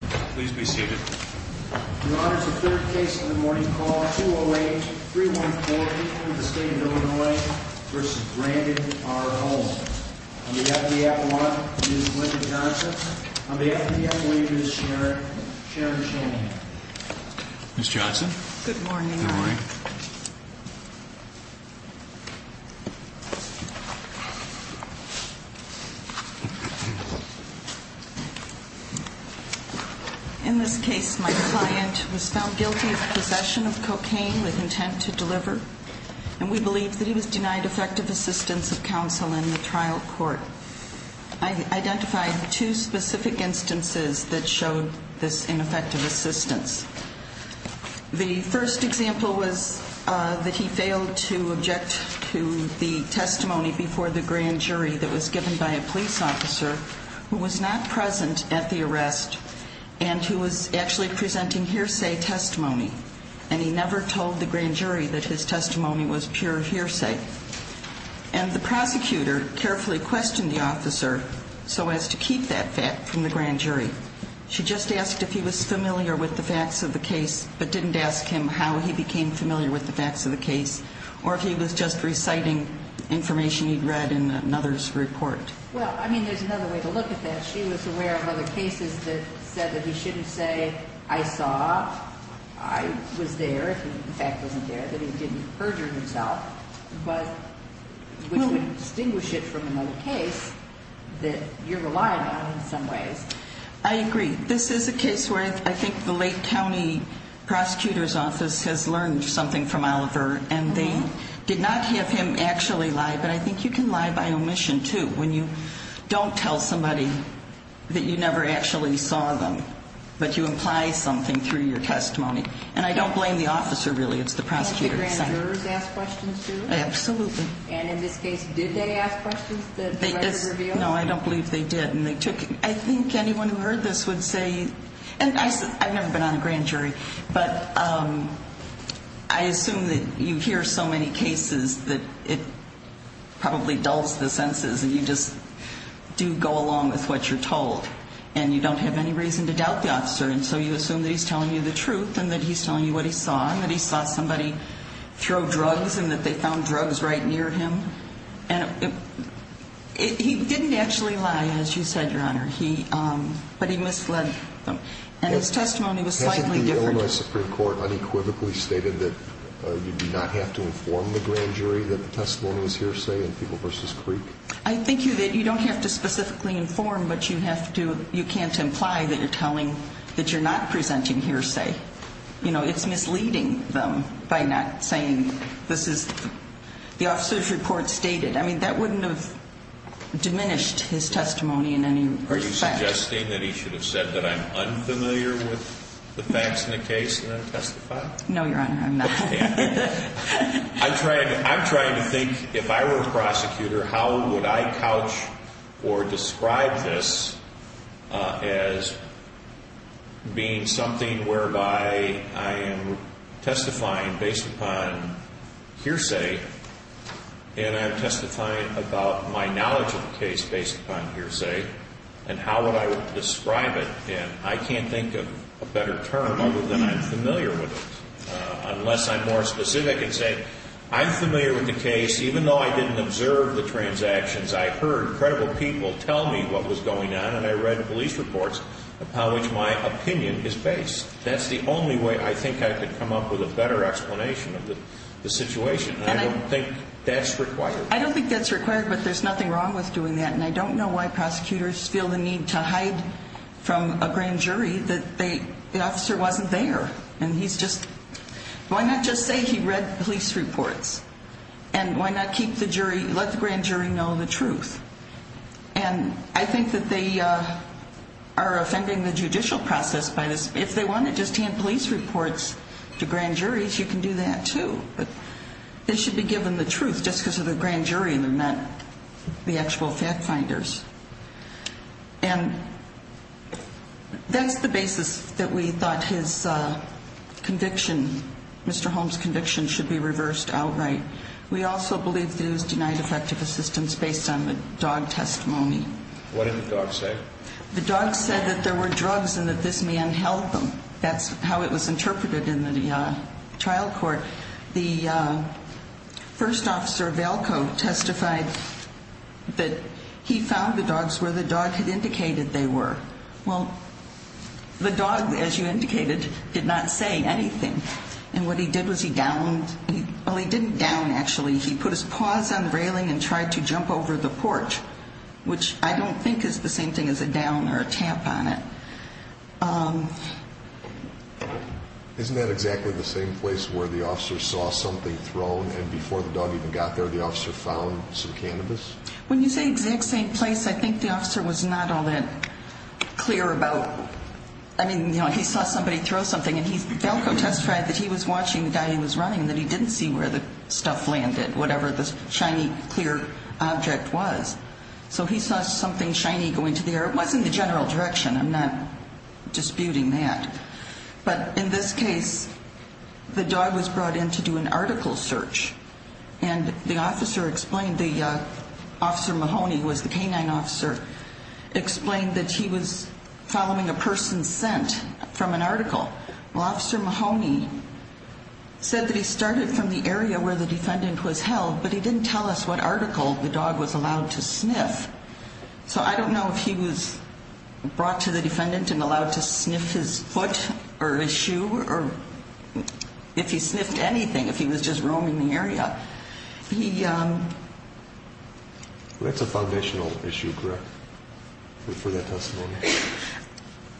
Please be seated. Your Honor, it's the third case of the morning. Call 208-314-8 from the State of Illinois v. Brandon R. Holmes. On behalf of the Avalanche, Ms. Linda Johnson. On behalf of the Avalanche, Ms. Sharon Chaney. Ms. Johnson. Good morning, Your Honor. Good morning. In this case, my client was found guilty of possession of cocaine with intent to deliver, and we believe that he was denied effective assistance of counsel in the trial court. I identified two specific instances that showed this ineffective assistance. The first example was that he failed to object to the testimony before the grand jury that was given by a police officer who was not present at the arrest and who was actually presenting hearsay testimony, and he never told the grand jury that his testimony was pure hearsay. And the prosecutor carefully questioned the officer so as to keep that fact from the grand jury. She just asked if he was familiar with the facts of the case but didn't ask him how he became familiar with the facts of the case or if he was just reciting information he'd read in another's report. Well, I mean, there's another way to look at that. She was aware of other cases that said that he shouldn't say, I saw, I was there, he in fact wasn't there, that he didn't perjure himself, but would distinguish it from another case that you're relying on in some ways. I agree. This is a case where I think the Lake County prosecutor's office has learned something from Oliver, and they did not have him actually lie, but I think you can lie by omission, too, when you don't tell somebody that you never actually saw them but you imply something through your testimony. And I don't blame the officer, really. It's the prosecutor's side. Don't the grand jurors ask questions, too? Absolutely. And in this case, did they ask questions that the record revealed? No, I don't believe they did. I think anyone who heard this would say, and I've never been on a grand jury, but I assume that you hear so many cases that it probably dulls the senses and you just do go along with what you're told, and you don't have any reason to doubt the officer, and so you assume that he's telling you the truth and that he's telling you what he saw and that he saw somebody throw drugs and that they found drugs right near him. And he didn't actually lie, as you said, Your Honor, but he misled them. And his testimony was slightly different. Hasn't the Illinois Supreme Court unequivocally stated that you do not have to inform the grand jury that the testimony was hearsay in People v. Creek? I think that you don't have to specifically inform, but you can't imply that you're not presenting hearsay. You know, it's misleading them by not saying this is the officer's report stated. I mean, that wouldn't have diminished his testimony in any respect. Are you suggesting that he should have said that I'm unfamiliar with the facts in the case and then testify? No, Your Honor, I'm not. I'm trying to think if I were a prosecutor, how would I couch or describe this as being something whereby I am testifying based upon hearsay and I'm testifying about my knowledge of the case based upon hearsay and how would I describe it? And I can't think of a better term other than I'm familiar with it, unless I'm more specific in saying I'm familiar with the case. Even though I didn't observe the transactions, I heard credible people tell me what was going on and I read police reports upon which my opinion is based. That's the only way I think I could come up with a better explanation of the situation. And I don't think that's required. I don't think that's required, but there's nothing wrong with doing that. And I don't know why prosecutors feel the need to hide from a grand jury that the officer wasn't there. And he's just, why not just say he read police reports? And why not keep the jury, let the grand jury know the truth? And I think that they are offending the judicial process by this. If they want to just hand police reports to grand juries, you can do that too. But they should be given the truth just because of the grand jury and not the actual fact finders. And that's the basis that we thought his conviction, Mr. Holmes' conviction, should be reversed outright. We also believe that it was denied effective assistance based on the dog testimony. What did the dog say? The dog said that there were drugs and that this man held them. That's how it was interpreted in the trial court. The first officer, Valco, testified that he found the dogs where the dog had indicated they were. Well, the dog, as you indicated, did not say anything. And what he did was he downed, well, he didn't down, actually. He put his paws on the railing and tried to jump over the porch, which I don't think is the same thing as a down or a tap on it. Isn't that exactly the same place where the officer saw something thrown and before the dog even got there the officer found some cannabis? When you say exact same place, I think the officer was not all that clear about, I mean, you know, he saw somebody throw something and Valco testified that he was watching the guy he was running and that he didn't see where the stuff landed, whatever the shiny, clear object was. So he saw something shiny going to the air. It wasn't the general direction. I'm not disputing that. But in this case, the dog was brought in to do an article search. And the officer explained, Officer Mahoney, who was the canine officer, explained that he was following a person sent from an article. Well, Officer Mahoney said that he started from the area where the defendant was held, but he didn't tell us what article the dog was allowed to sniff. So I don't know if he was brought to the defendant and allowed to sniff his foot or his shoe or if he sniffed anything, if he was just roaming the area. That's a foundational issue, correct, for that testimony?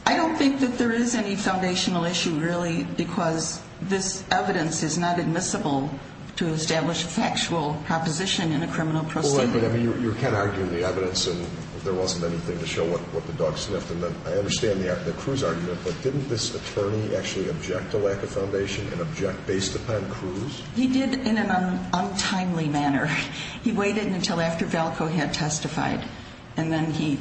I don't think that there is any foundational issue, really, because this evidence is not admissible to establish a factual proposition in a criminal proceeding. You were kind of arguing the evidence, and there wasn't anything to show what the dog sniffed. I understand the Cruz argument, but didn't this attorney actually object to lack of foundation and object based upon Cruz? He did in an untimely manner. He waited until after Valco had testified, and then he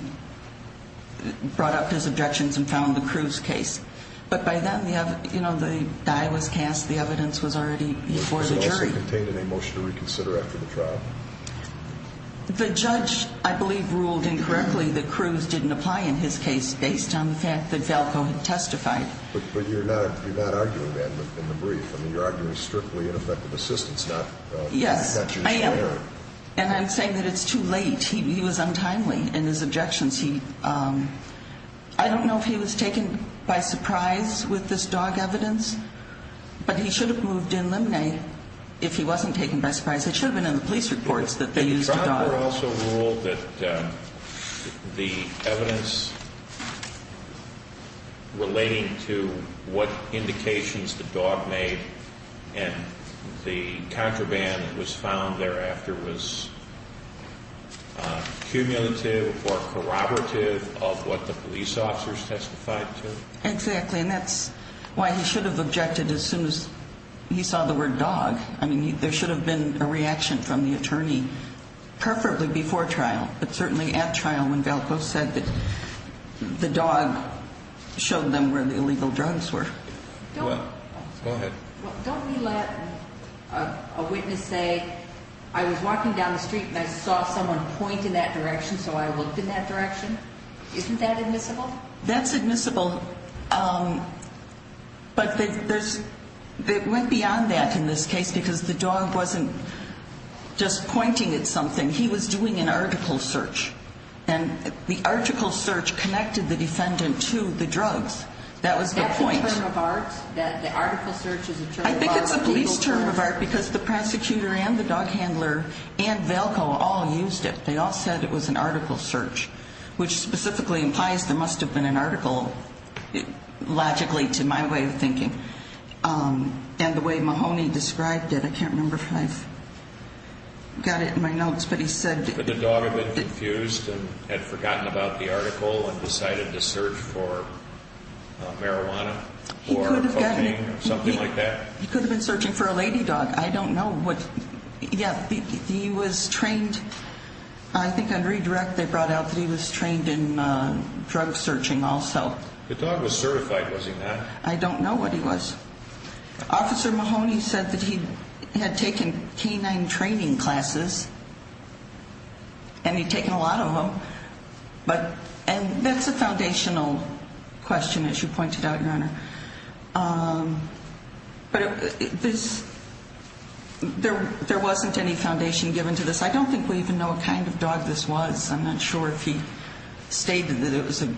brought up his objections and found the Cruz case. But by then, the die was cast, the evidence was already before the jury. Did the jury contain any motion to reconsider after the trial? The judge, I believe, ruled incorrectly that Cruz didn't apply in his case based on the fact that Valco had testified. But you're not arguing that in the brief. I mean, you're arguing strictly ineffective assistance, not jury support. Yes, I am. And I'm saying that it's too late. He was untimely in his objections. I don't know if he was taken by surprise with this dog evidence, but he should have moved in limine if he wasn't taken by surprise. It should have been in the police reports that they used the dog. But the trial also ruled that the evidence relating to what indications the dog made and the contraband that was found thereafter was cumulative or corroborative of what the police officers testified to. Exactly, and that's why he should have objected as soon as he saw the word dog. I mean, there should have been a reaction from the attorney, preferably before trial, but certainly at trial when Valco said that the dog showed them where the illegal drugs were. Go ahead. Don't we let a witness say, I was walking down the street and I saw someone point in that direction, so I looked in that direction? Isn't that admissible? Well, that's admissible, but it went beyond that in this case because the dog wasn't just pointing at something. He was doing an article search, and the article search connected the defendant to the drugs. That was the point. That's a term of art, that the article search is a term of art? I think it's a police term of art because the prosecutor and the dog handler and Valco all used it. They all said it was an article search, which specifically implies there must have been an article, logically to my way of thinking, and the way Mahoney described it. I can't remember if I've got it in my notes, but he said— Could the dog have been confused and had forgotten about the article and decided to search for marijuana or cocaine or something like that? He could have been searching for a lady dog. I don't know what—yeah, he was trained. I think on redirect they brought out that he was trained in drug searching also. The dog was certified, was he not? I don't know what he was. Officer Mahoney said that he had taken canine training classes, and he'd taken a lot of them. And that's a foundational question, as you pointed out, Your Honor. But there wasn't any foundation given to this. I don't think we even know what kind of dog this was. I'm not sure if he stated that it was a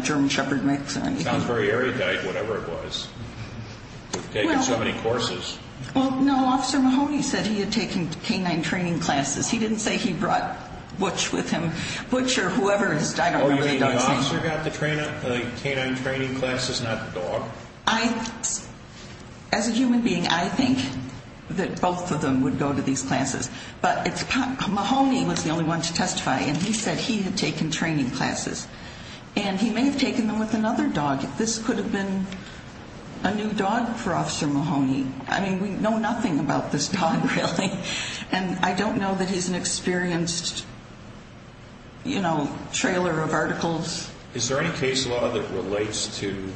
German Shepherd mix or anything. It sounds very erudite, whatever it was. He'd taken so many courses. Well, no, Officer Mahoney said he had taken canine training classes. He didn't say he brought Butch with him. Butch or whoever, I don't remember the dog's name. The officer got the canine training classes, not the dog? As a human being, I think that both of them would go to these classes. But Mahoney was the only one to testify, and he said he had taken training classes. And he may have taken them with another dog. This could have been a new dog for Officer Mahoney. I mean, we know nothing about this dog, really. And I don't know that he's an experienced trailer of articles. Is there any case law that relates to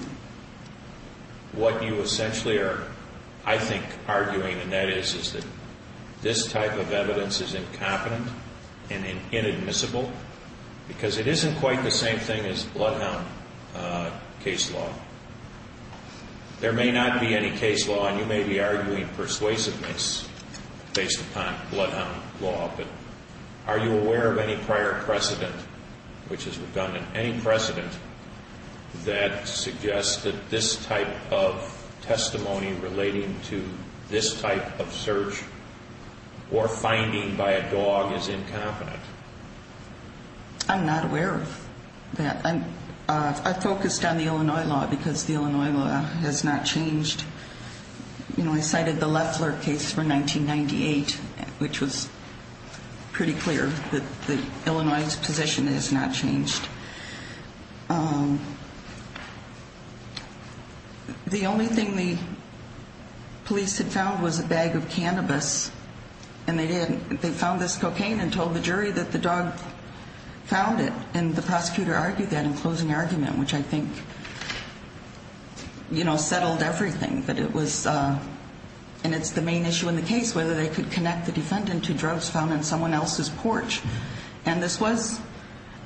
what you essentially are, I think, arguing, and that is that this type of evidence is incompetent and inadmissible because it isn't quite the same thing as bloodhound case law? There may not be any case law, and you may be arguing persuasiveness based upon bloodhound law, but are you aware of any prior precedent, which is redundant, any precedent that suggests that this type of testimony relating to this type of search or finding by a dog is incompetent? I'm not aware of that. I focused on the Illinois law because the Illinois law has not changed. You know, I cited the Loeffler case from 1998, which was pretty clear that Illinois' position has not changed. The only thing the police had found was a bag of cannabis, and they didn't. They found this cocaine and told the jury that the dog found it, and the prosecutor argued that in closing argument, which I think, you know, settled everything, that it was, and it's the main issue in the case, whether they could connect the defendant to drugs found in someone else's porch. And this was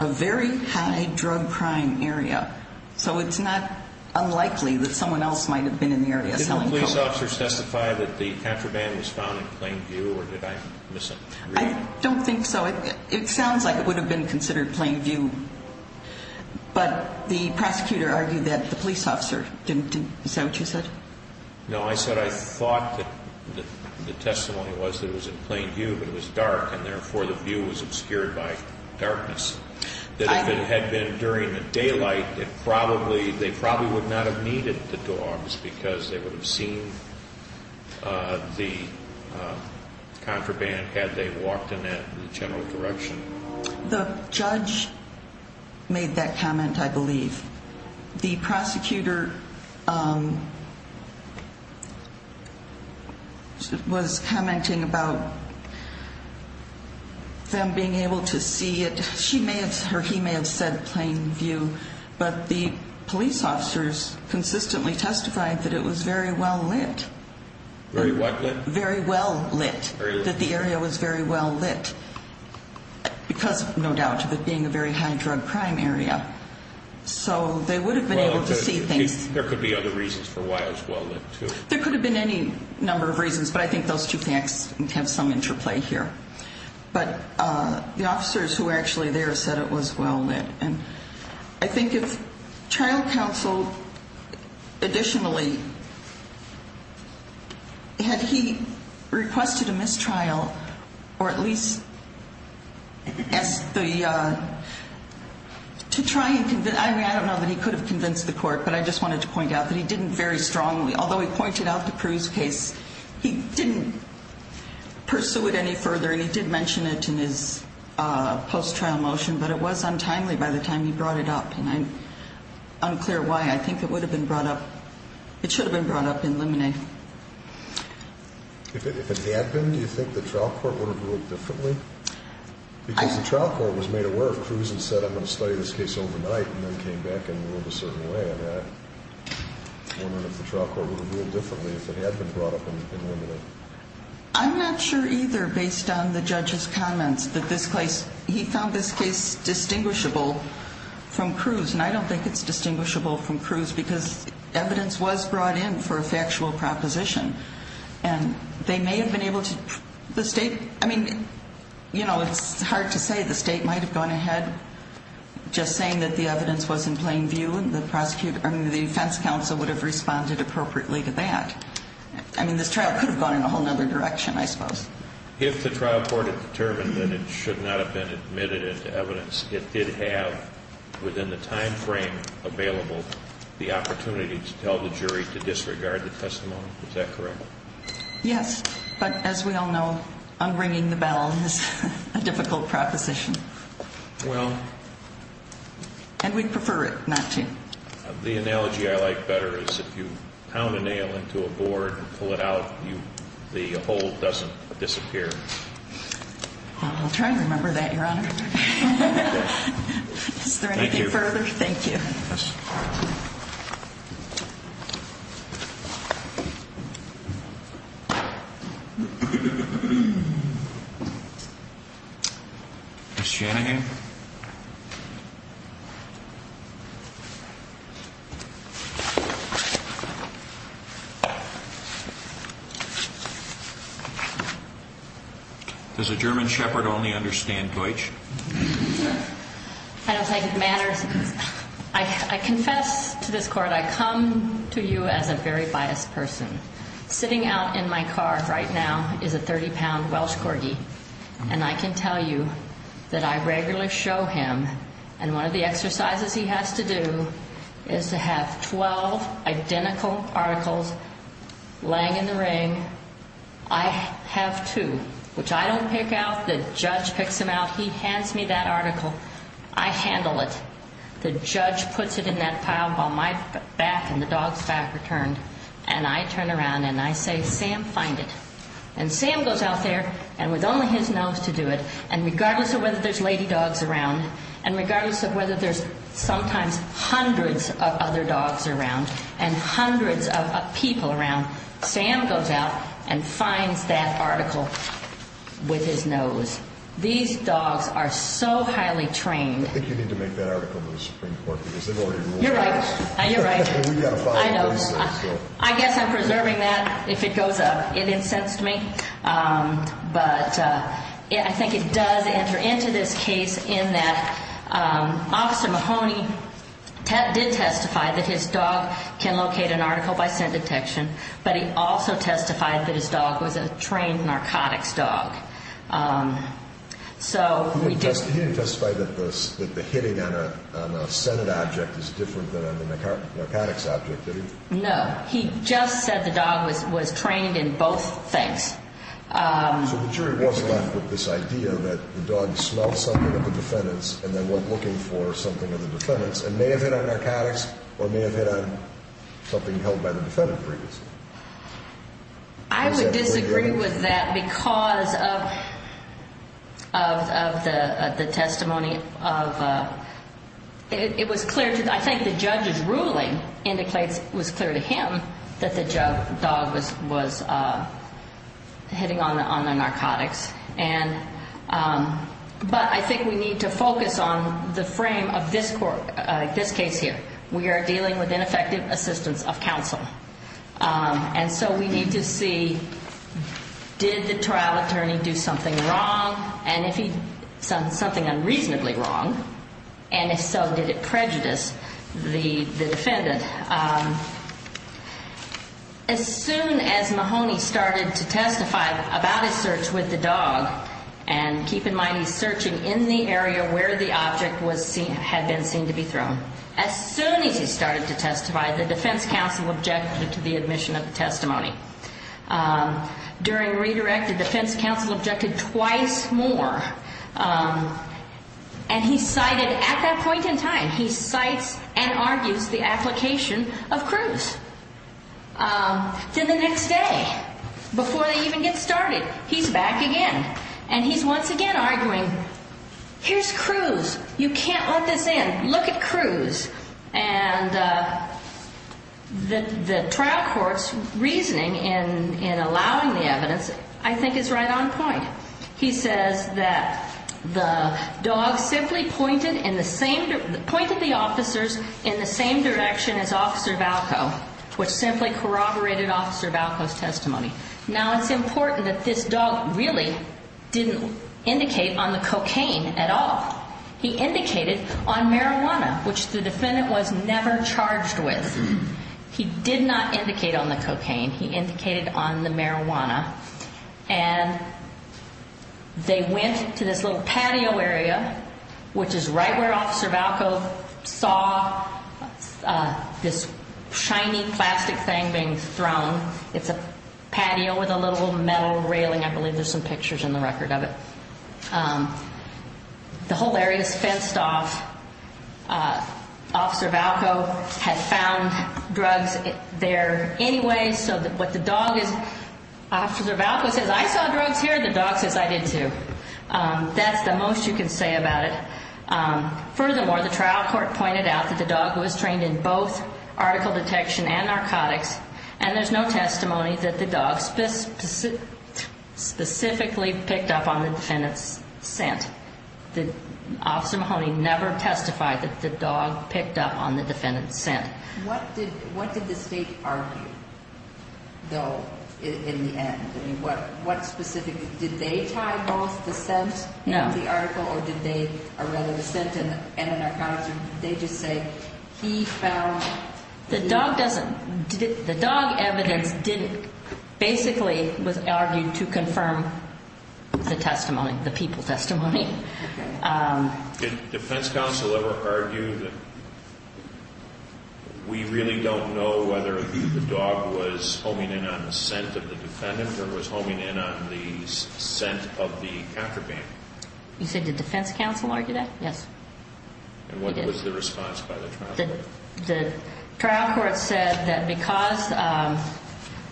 a very high drug crime area, so it's not unlikely that someone else might have been in the area selling cocaine. Did the police officers testify that the contraband was found in plain view, or did I miss it? I don't think so. It sounds like it would have been considered plain view, but the prosecutor argued that the police officer didn't. Is that what you said? No, I said I thought that the testimony was that it was in plain view, but it was dark, and therefore the view was obscured by darkness. That if it had been during the daylight, they probably would not have needed the dogs because they would have seen the contraband had they walked in that general direction. The judge made that comment, I believe. The prosecutor was commenting about them being able to see it. He may have said plain view, but the police officers consistently testified that it was very well lit. Very what lit? That the area was very well lit because, no doubt, of it being a very high drug crime area. So they would have been able to see things. There could be other reasons for why it was well lit, too. There could have been any number of reasons, but I think those two things have some interplay here. But the officers who were actually there said it was well lit. I think if trial counsel additionally had he requested a mistrial, or at least to try and convince, I don't know that he could have convinced the court, but I just wanted to point out that he didn't very strongly, although he pointed out the Cruz case, he didn't pursue it any further, and he did mention it in his post-trial motion, but it was untimely by the time he brought it up, and I'm unclear why. I think it would have been brought up. It should have been brought up in limine. If it had been, do you think the trial court would have ruled differently? Because the trial court was made aware of Cruz and said, I'm going to study this case overnight, and then came back and ruled a certain way on that. I'm wondering if the trial court would have ruled differently if it had been brought up in limine. I'm not sure either based on the judge's comments that this case, he found this case distinguishable from Cruz, and I don't think it's distinguishable from Cruz because evidence was brought in for a factual proposition, and they may have been able to, the state, I mean, you know, it's hard to say. The state might have gone ahead just saying that the evidence was in plain view, and the defense counsel would have responded appropriately to that. I mean, this trial could have gone in a whole other direction, I suppose. If the trial court had determined that it should not have been admitted into evidence, it did have within the time frame available the opportunity to tell the jury to disregard the testimony. Is that correct? Yes. But as we all know, unringing the bell is a difficult proposition. Well. And we'd prefer it not to. The analogy I like better is if you pound a nail into a board and pull it out, the hole doesn't disappear. We'll try to remember that, Your Honor. Is there anything further? Thank you. Thank you. Ms. Shanahan. Does a German shepherd only understand Deutsch? I don't think it matters. I confess to this court I come to you as a very biased person. Sitting out in my car right now is a 30-pound Welsh corgi, and I can tell you that I regularly show him, and one of the exercises he has to do is to have 12 identical articles laying in the ring. I have two, which I don't pick out. The judge picks them out. He hands me that article. I handle it. The judge puts it in that pile while my back and the dog's back are turned, and I turn around and I say, Sam, find it. And Sam goes out there, and with only his nose to do it, and regardless of whether there's lady dogs around and regardless of whether there's sometimes hundreds of other dogs around and hundreds of people around, Sam goes out and finds that article with his nose. These dogs are so highly trained. I think you need to make that article to the Supreme Court because they've already ruled against it. You're right. We've got to follow what he says. I guess I'm preserving that. If it goes up, it incensed me. But I think it does enter into this case in that Officer Mahoney did testify that his dog can locate an article by scent detection, but he also testified that his dog was a trained narcotics dog. He didn't testify that the hitting on a scent object is different than on a narcotics object, did he? No. He just said the dog was trained in both things. So the jury was left with this idea that the dog smelled something of the defendant's and then went looking for something of the defendant's and may have hit on narcotics or may have hit on something held by the defendant previously. I would disagree with that because of the testimony of the – that the dog was hitting on the narcotics. But I think we need to focus on the frame of this case here. We are dealing with ineffective assistance of counsel. And so we need to see, did the trial attorney do something wrong? And if he did something unreasonably wrong, and if so, did it prejudice the defendant? As soon as Mahoney started to testify about his search with the dog, and keep in mind he's searching in the area where the object had been seen to be thrown. As soon as he started to testify, the defense counsel objected to the admission of the testimony. During redirect, the defense counsel objected twice more. And he cited at that point in time, he cites and argues the application of Cruz. Then the next day, before they even get started, he's back again. And he's once again arguing, here's Cruz. You can't let this in. Look at Cruz. And the trial court's reasoning in allowing the evidence I think is right on point. He says that the dog simply pointed the officers in the same direction as Officer Valco, which simply corroborated Officer Valco's testimony. Now, it's important that this dog really didn't indicate on the cocaine at all. He indicated on marijuana, which the defendant was never charged with. He did not indicate on the cocaine. He indicated on the marijuana. And they went to this little patio area, which is right where Officer Valco saw this shiny plastic thing being thrown. It's a patio with a little metal railing. I believe there's some pictures in the record of it. The whole area is fenced off. Officer Valco had found drugs there anyway. So what the dog is, Officer Valco says, I saw drugs here. The dog says, I did too. That's the most you can say about it. Furthermore, the trial court pointed out that the dog was trained in both article detection and narcotics, and there's no testimony that the dog specifically picked up on the defendant's scent. Officer Mahoney never testified that the dog picked up on the defendant's scent. What did the State argue, though, in the end? I mean, what specifically? Did they tie both the scent in the article, or did they, or rather the scent in the narcotics? Or did they just say he found? The dog doesn't. The dog evidence basically was argued to confirm the testimony, the people testimony. Did defense counsel ever argue that we really don't know whether the dog was homing in on the scent of the defendant or was homing in on the scent of the contraband? You said did defense counsel argue that? Yes. And what was the response by the trial court? The trial court said that because,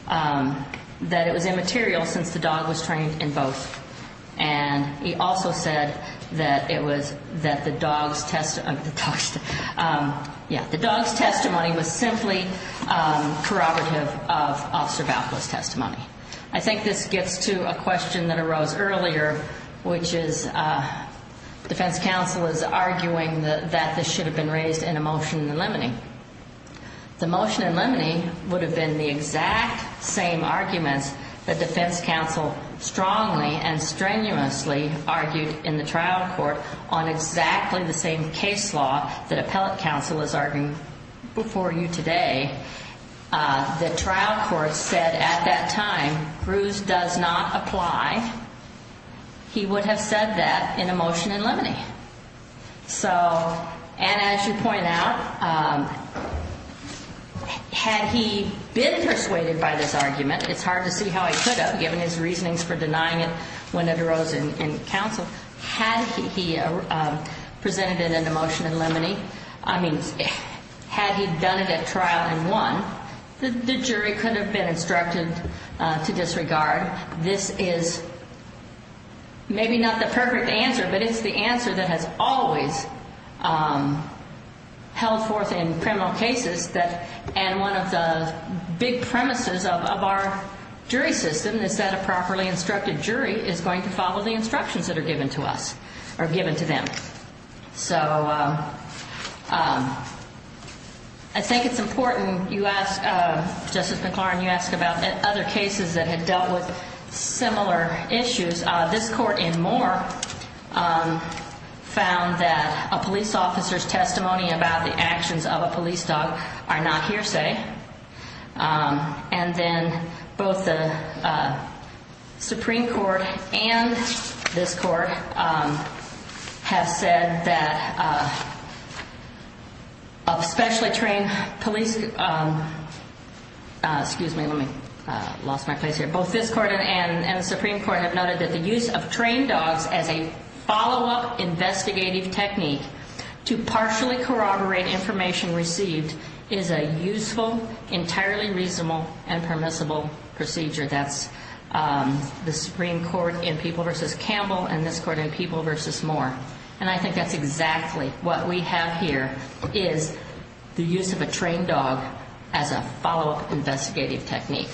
that it was immaterial since the dog was trained in both. And he also said that it was, that the dog's testimony was simply corroborative of Officer Valco's testimony. I think this gets to a question that arose earlier, which is defense counsel is arguing that this should have been raised in a motion in limine. The motion in limine would have been the exact same arguments that defense counsel strongly and strenuously argued in the trial court on exactly the same case law that appellate counsel is arguing before you today. The trial court said at that time, Cruz does not apply. He would have said that in a motion in limine. So, and as you point out, had he been persuaded by this argument, it's hard to see how he could have, given his reasonings for denying it when it arose in counsel. Had he presented it in a motion in limine, I mean, had he done it at trial and won, the jury could have been instructed to disregard. This is maybe not the perfect answer, but it's the answer that has always held forth in criminal cases, and one of the big premises of our jury system is that a properly instructed jury is going to follow the instructions that are given to us or given to them. So I think it's important you ask, Justice McClaren, you ask about other cases that have dealt with similar issues. This court in Moore found that a police officer's testimony about the actions of a police dog are not hearsay. And then both the Supreme Court and this court have said that a specially trained police, excuse me, let me, lost my place here. Both this court and the Supreme Court have noted that the use of trained dogs as a follow-up investigative technique to partially corroborate information received is a useful, entirely reasonable, and permissible procedure. That's the Supreme Court in People v. Campbell and this court in People v. Moore. And I think that's exactly what we have here is the use of a trained dog as a follow-up investigative technique.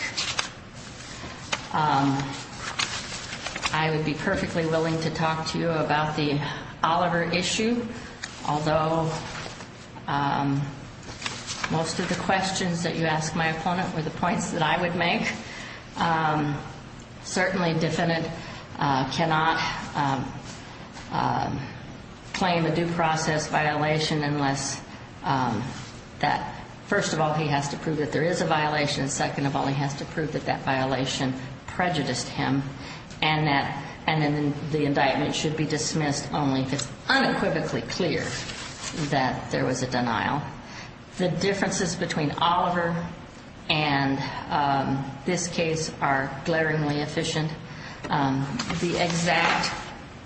I would be perfectly willing to talk to you about the Oliver issue, although most of the questions that you asked my opponent were the points that I would make. Certainly, a defendant cannot claim a due process violation unless that, first of all, he has to prove that there is a violation, second of all, he has to prove that that violation prejudiced him, and then the indictment should be dismissed only if it's unequivocally clear that there was a denial. The differences between Oliver and this case are glaringly efficient. The exact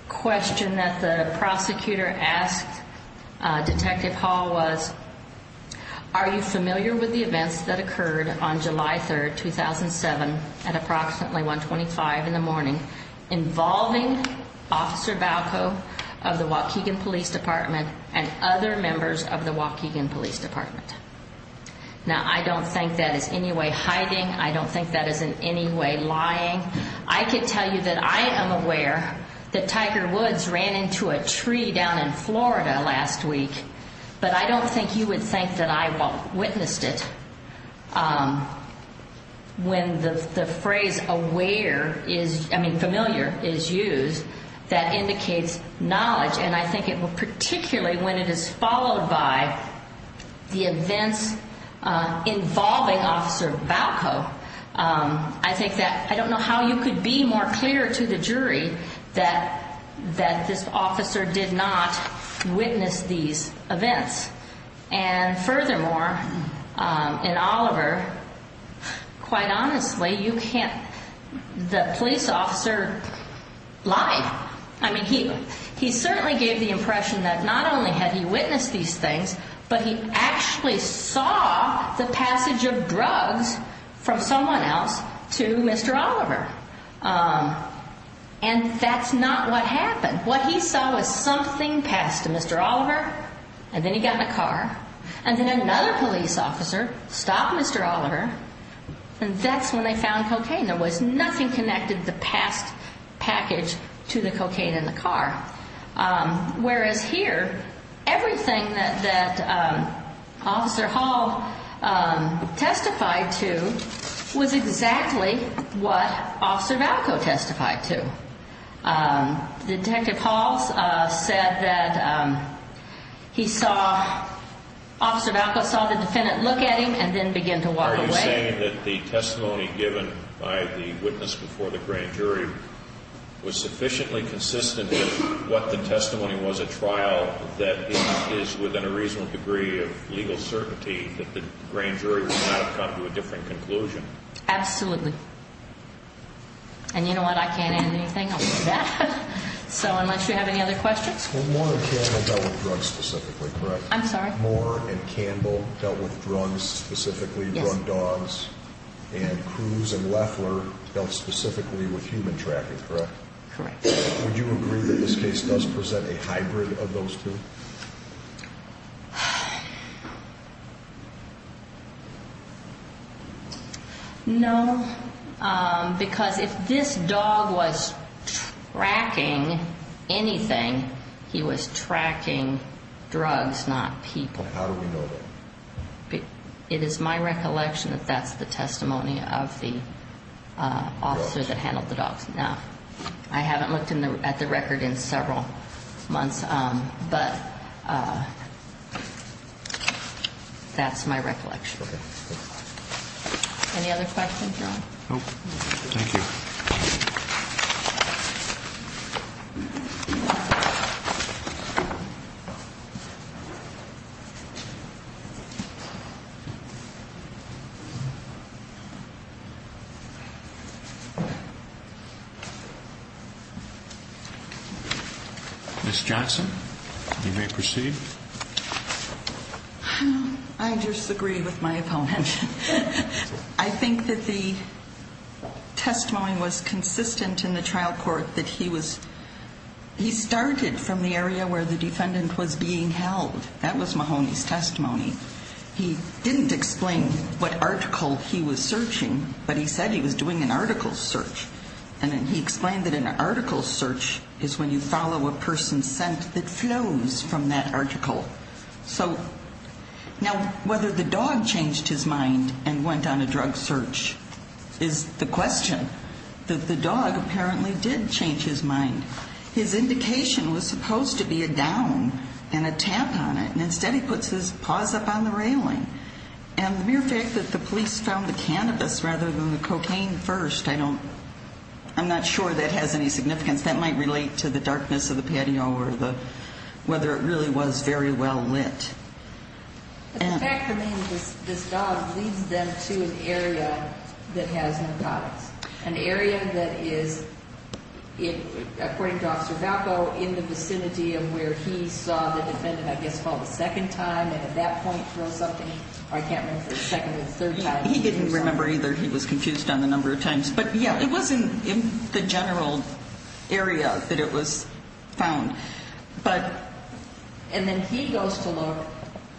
question that the prosecutor asked Detective Hall was, Are you familiar with the events that occurred on July 3rd, 2007 at approximately 125 in the morning involving Officer Bauco of the Waukegan Police Department and other members of the Waukegan Police Department? Now, I don't think that is any way hiding. I don't think that is in any way lying. I could tell you that I am aware that Tiger Woods ran into a tree down in Florida last week, but I don't think you would think that I witnessed it. When the phrase familiar is used, that indicates knowledge, and I think particularly when it is followed by the events involving Officer Bauco, I think that, I don't know how you could be more clear to the jury that this officer did not witness these events. And furthermore, in Oliver, quite honestly, you can't, the police officer lied. I mean, he certainly gave the impression that not only had he witnessed these things, but he actually saw the passage of drugs from someone else to Mr. Oliver. And that's not what happened. What he saw was something passed to Mr. Oliver, and then he got in a car, and then another police officer stopped Mr. Oliver, and that's when they found cocaine. There was nothing connected to the past package to the cocaine in the car. Whereas here, everything that Officer Hall testified to was exactly what Officer Bauco testified to. Detective Hall said that he saw, Officer Bauco saw the defendant look at him and then began to walk away. So you're saying that the testimony given by the witness before the grand jury was sufficiently consistent with what the testimony was at trial that is within a reasonable degree of legal certainty that the grand jury would not have come to a different conclusion? Absolutely. And you know what, I can't add anything other than that. So unless you have any other questions? Well, Moore and Campbell dealt with drugs specifically, correct? I'm sorry? Matt Moore and Campbell dealt with drugs specifically, drug dogs, and Cruz and Loeffler dealt specifically with human tracking, correct? Correct. Would you agree that this case does present a hybrid of those two? No, because if this dog was tracking anything, he was tracking drugs, not people. How do we know that? It is my recollection that that's the testimony of the officer that handled the dogs. I haven't looked at the record in several months, but that's my recollection. Any other questions, Ron? Nope. Thank you. Ms. Johnson, you may proceed. I disagree with my opponent. I think that the testimony was consistent in the trial court that he was ñ he started from the area where the defendant was being held. That was Mahoney's testimony. He didn't explain what article he was searching, but he said he was doing an article search, and then he explained that an article search is when you follow a person's scent that flows from that article. So now whether the dog changed his mind and went on a drug search is the question. The dog apparently did change his mind. His indication was supposed to be a down and a tampon, and instead he puts his paws up on the railing. And the mere fact that the police found the cannabis rather than the cocaine first, I don't ñ I'm not sure that has any significance. That might relate to the darkness of the patio or the ñ whether it really was very well lit. The fact remains this dog leads them to an area that has narcotics, an area that is, according to Officer Valco, in the vicinity of where he saw the defendant, I guess, for the second time, and at that point throw something, or I can't remember, the second or third time. He didn't remember either. He was confused on the number of times. But, yeah, it wasn't in the general area that it was found. But ñ And then he goes to look.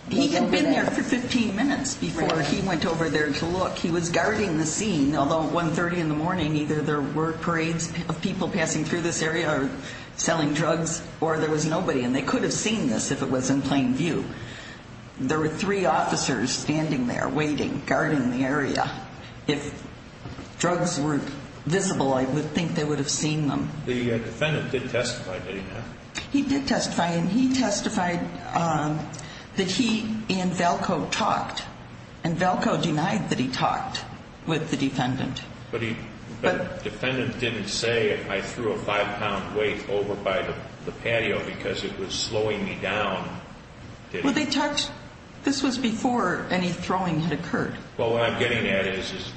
He had been there for 15 minutes before he went over there to look. He was guarding the scene, although at 1.30 in the morning either there were parades of people passing through this area or selling drugs, or there was nobody, and they could have seen this if it was in plain view. There were three officers standing there waiting, guarding the area. If drugs weren't visible, I would think they would have seen them. The defendant did testify, did he not? He did testify, and he testified that he and Valco talked, and Valco denied that he talked with the defendant. But the defendant didn't say, I threw a five-pound weight over by the patio because it was slowing me down. Well, they talked ñ this was before any throwing had occurred. Well, what I'm getting at is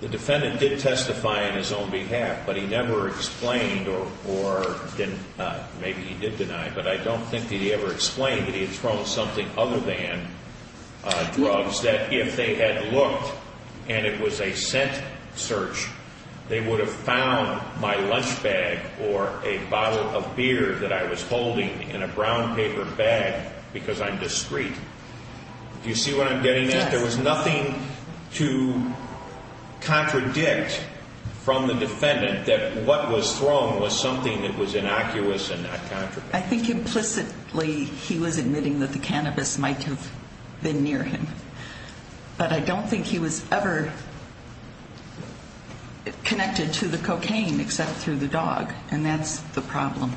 the defendant did testify on his own behalf, but he never explained or ñ maybe he did deny, but I don't think that he ever explained that he had thrown something other than drugs, that if they had looked and it was a scent search, they would have found my lunch bag or a bottle of beer that I was holding in a brown paper bag because I'm discreet. Do you see what I'm getting at? Yes. There was nothing to contradict from the defendant that what was thrown was something that was innocuous and not contradictory. I think implicitly he was admitting that the cannabis might have been near him, but I don't think he was ever connected to the cocaine except through the dog, and that's the problem.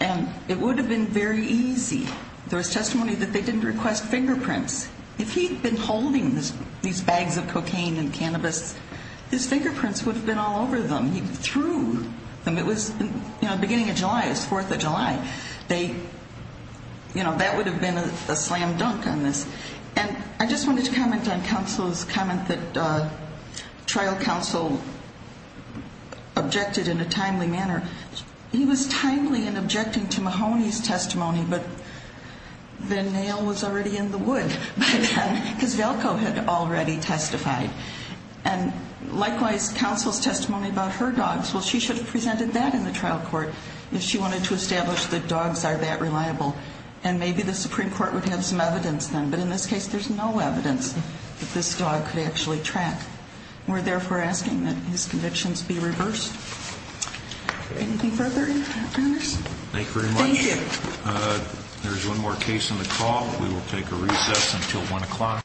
And it would have been very easy. There was testimony that they didn't request fingerprints. If he'd been holding these bags of cocaine and cannabis, his fingerprints would have been all over them. He threw them. It was, you know, beginning of July, it was 4th of July. You know, that would have been a slam dunk on this. And I just wanted to comment on counsel's comment that trial counsel objected in a timely manner. He was timely in objecting to Mahoney's testimony, but the nail was already in the wood because Valco had already testified. And likewise, counsel's testimony about her dogs, well, she should have presented that in the trial court if she wanted to establish that dogs are that reliable, and maybe the Supreme Court would have some evidence then. But in this case, there's no evidence that this dog could actually track. We're therefore asking that his convictions be reversed. Anything further? Thank you very much. Thank you. There's one more case on the call. We will take a recess until 1 o'clock.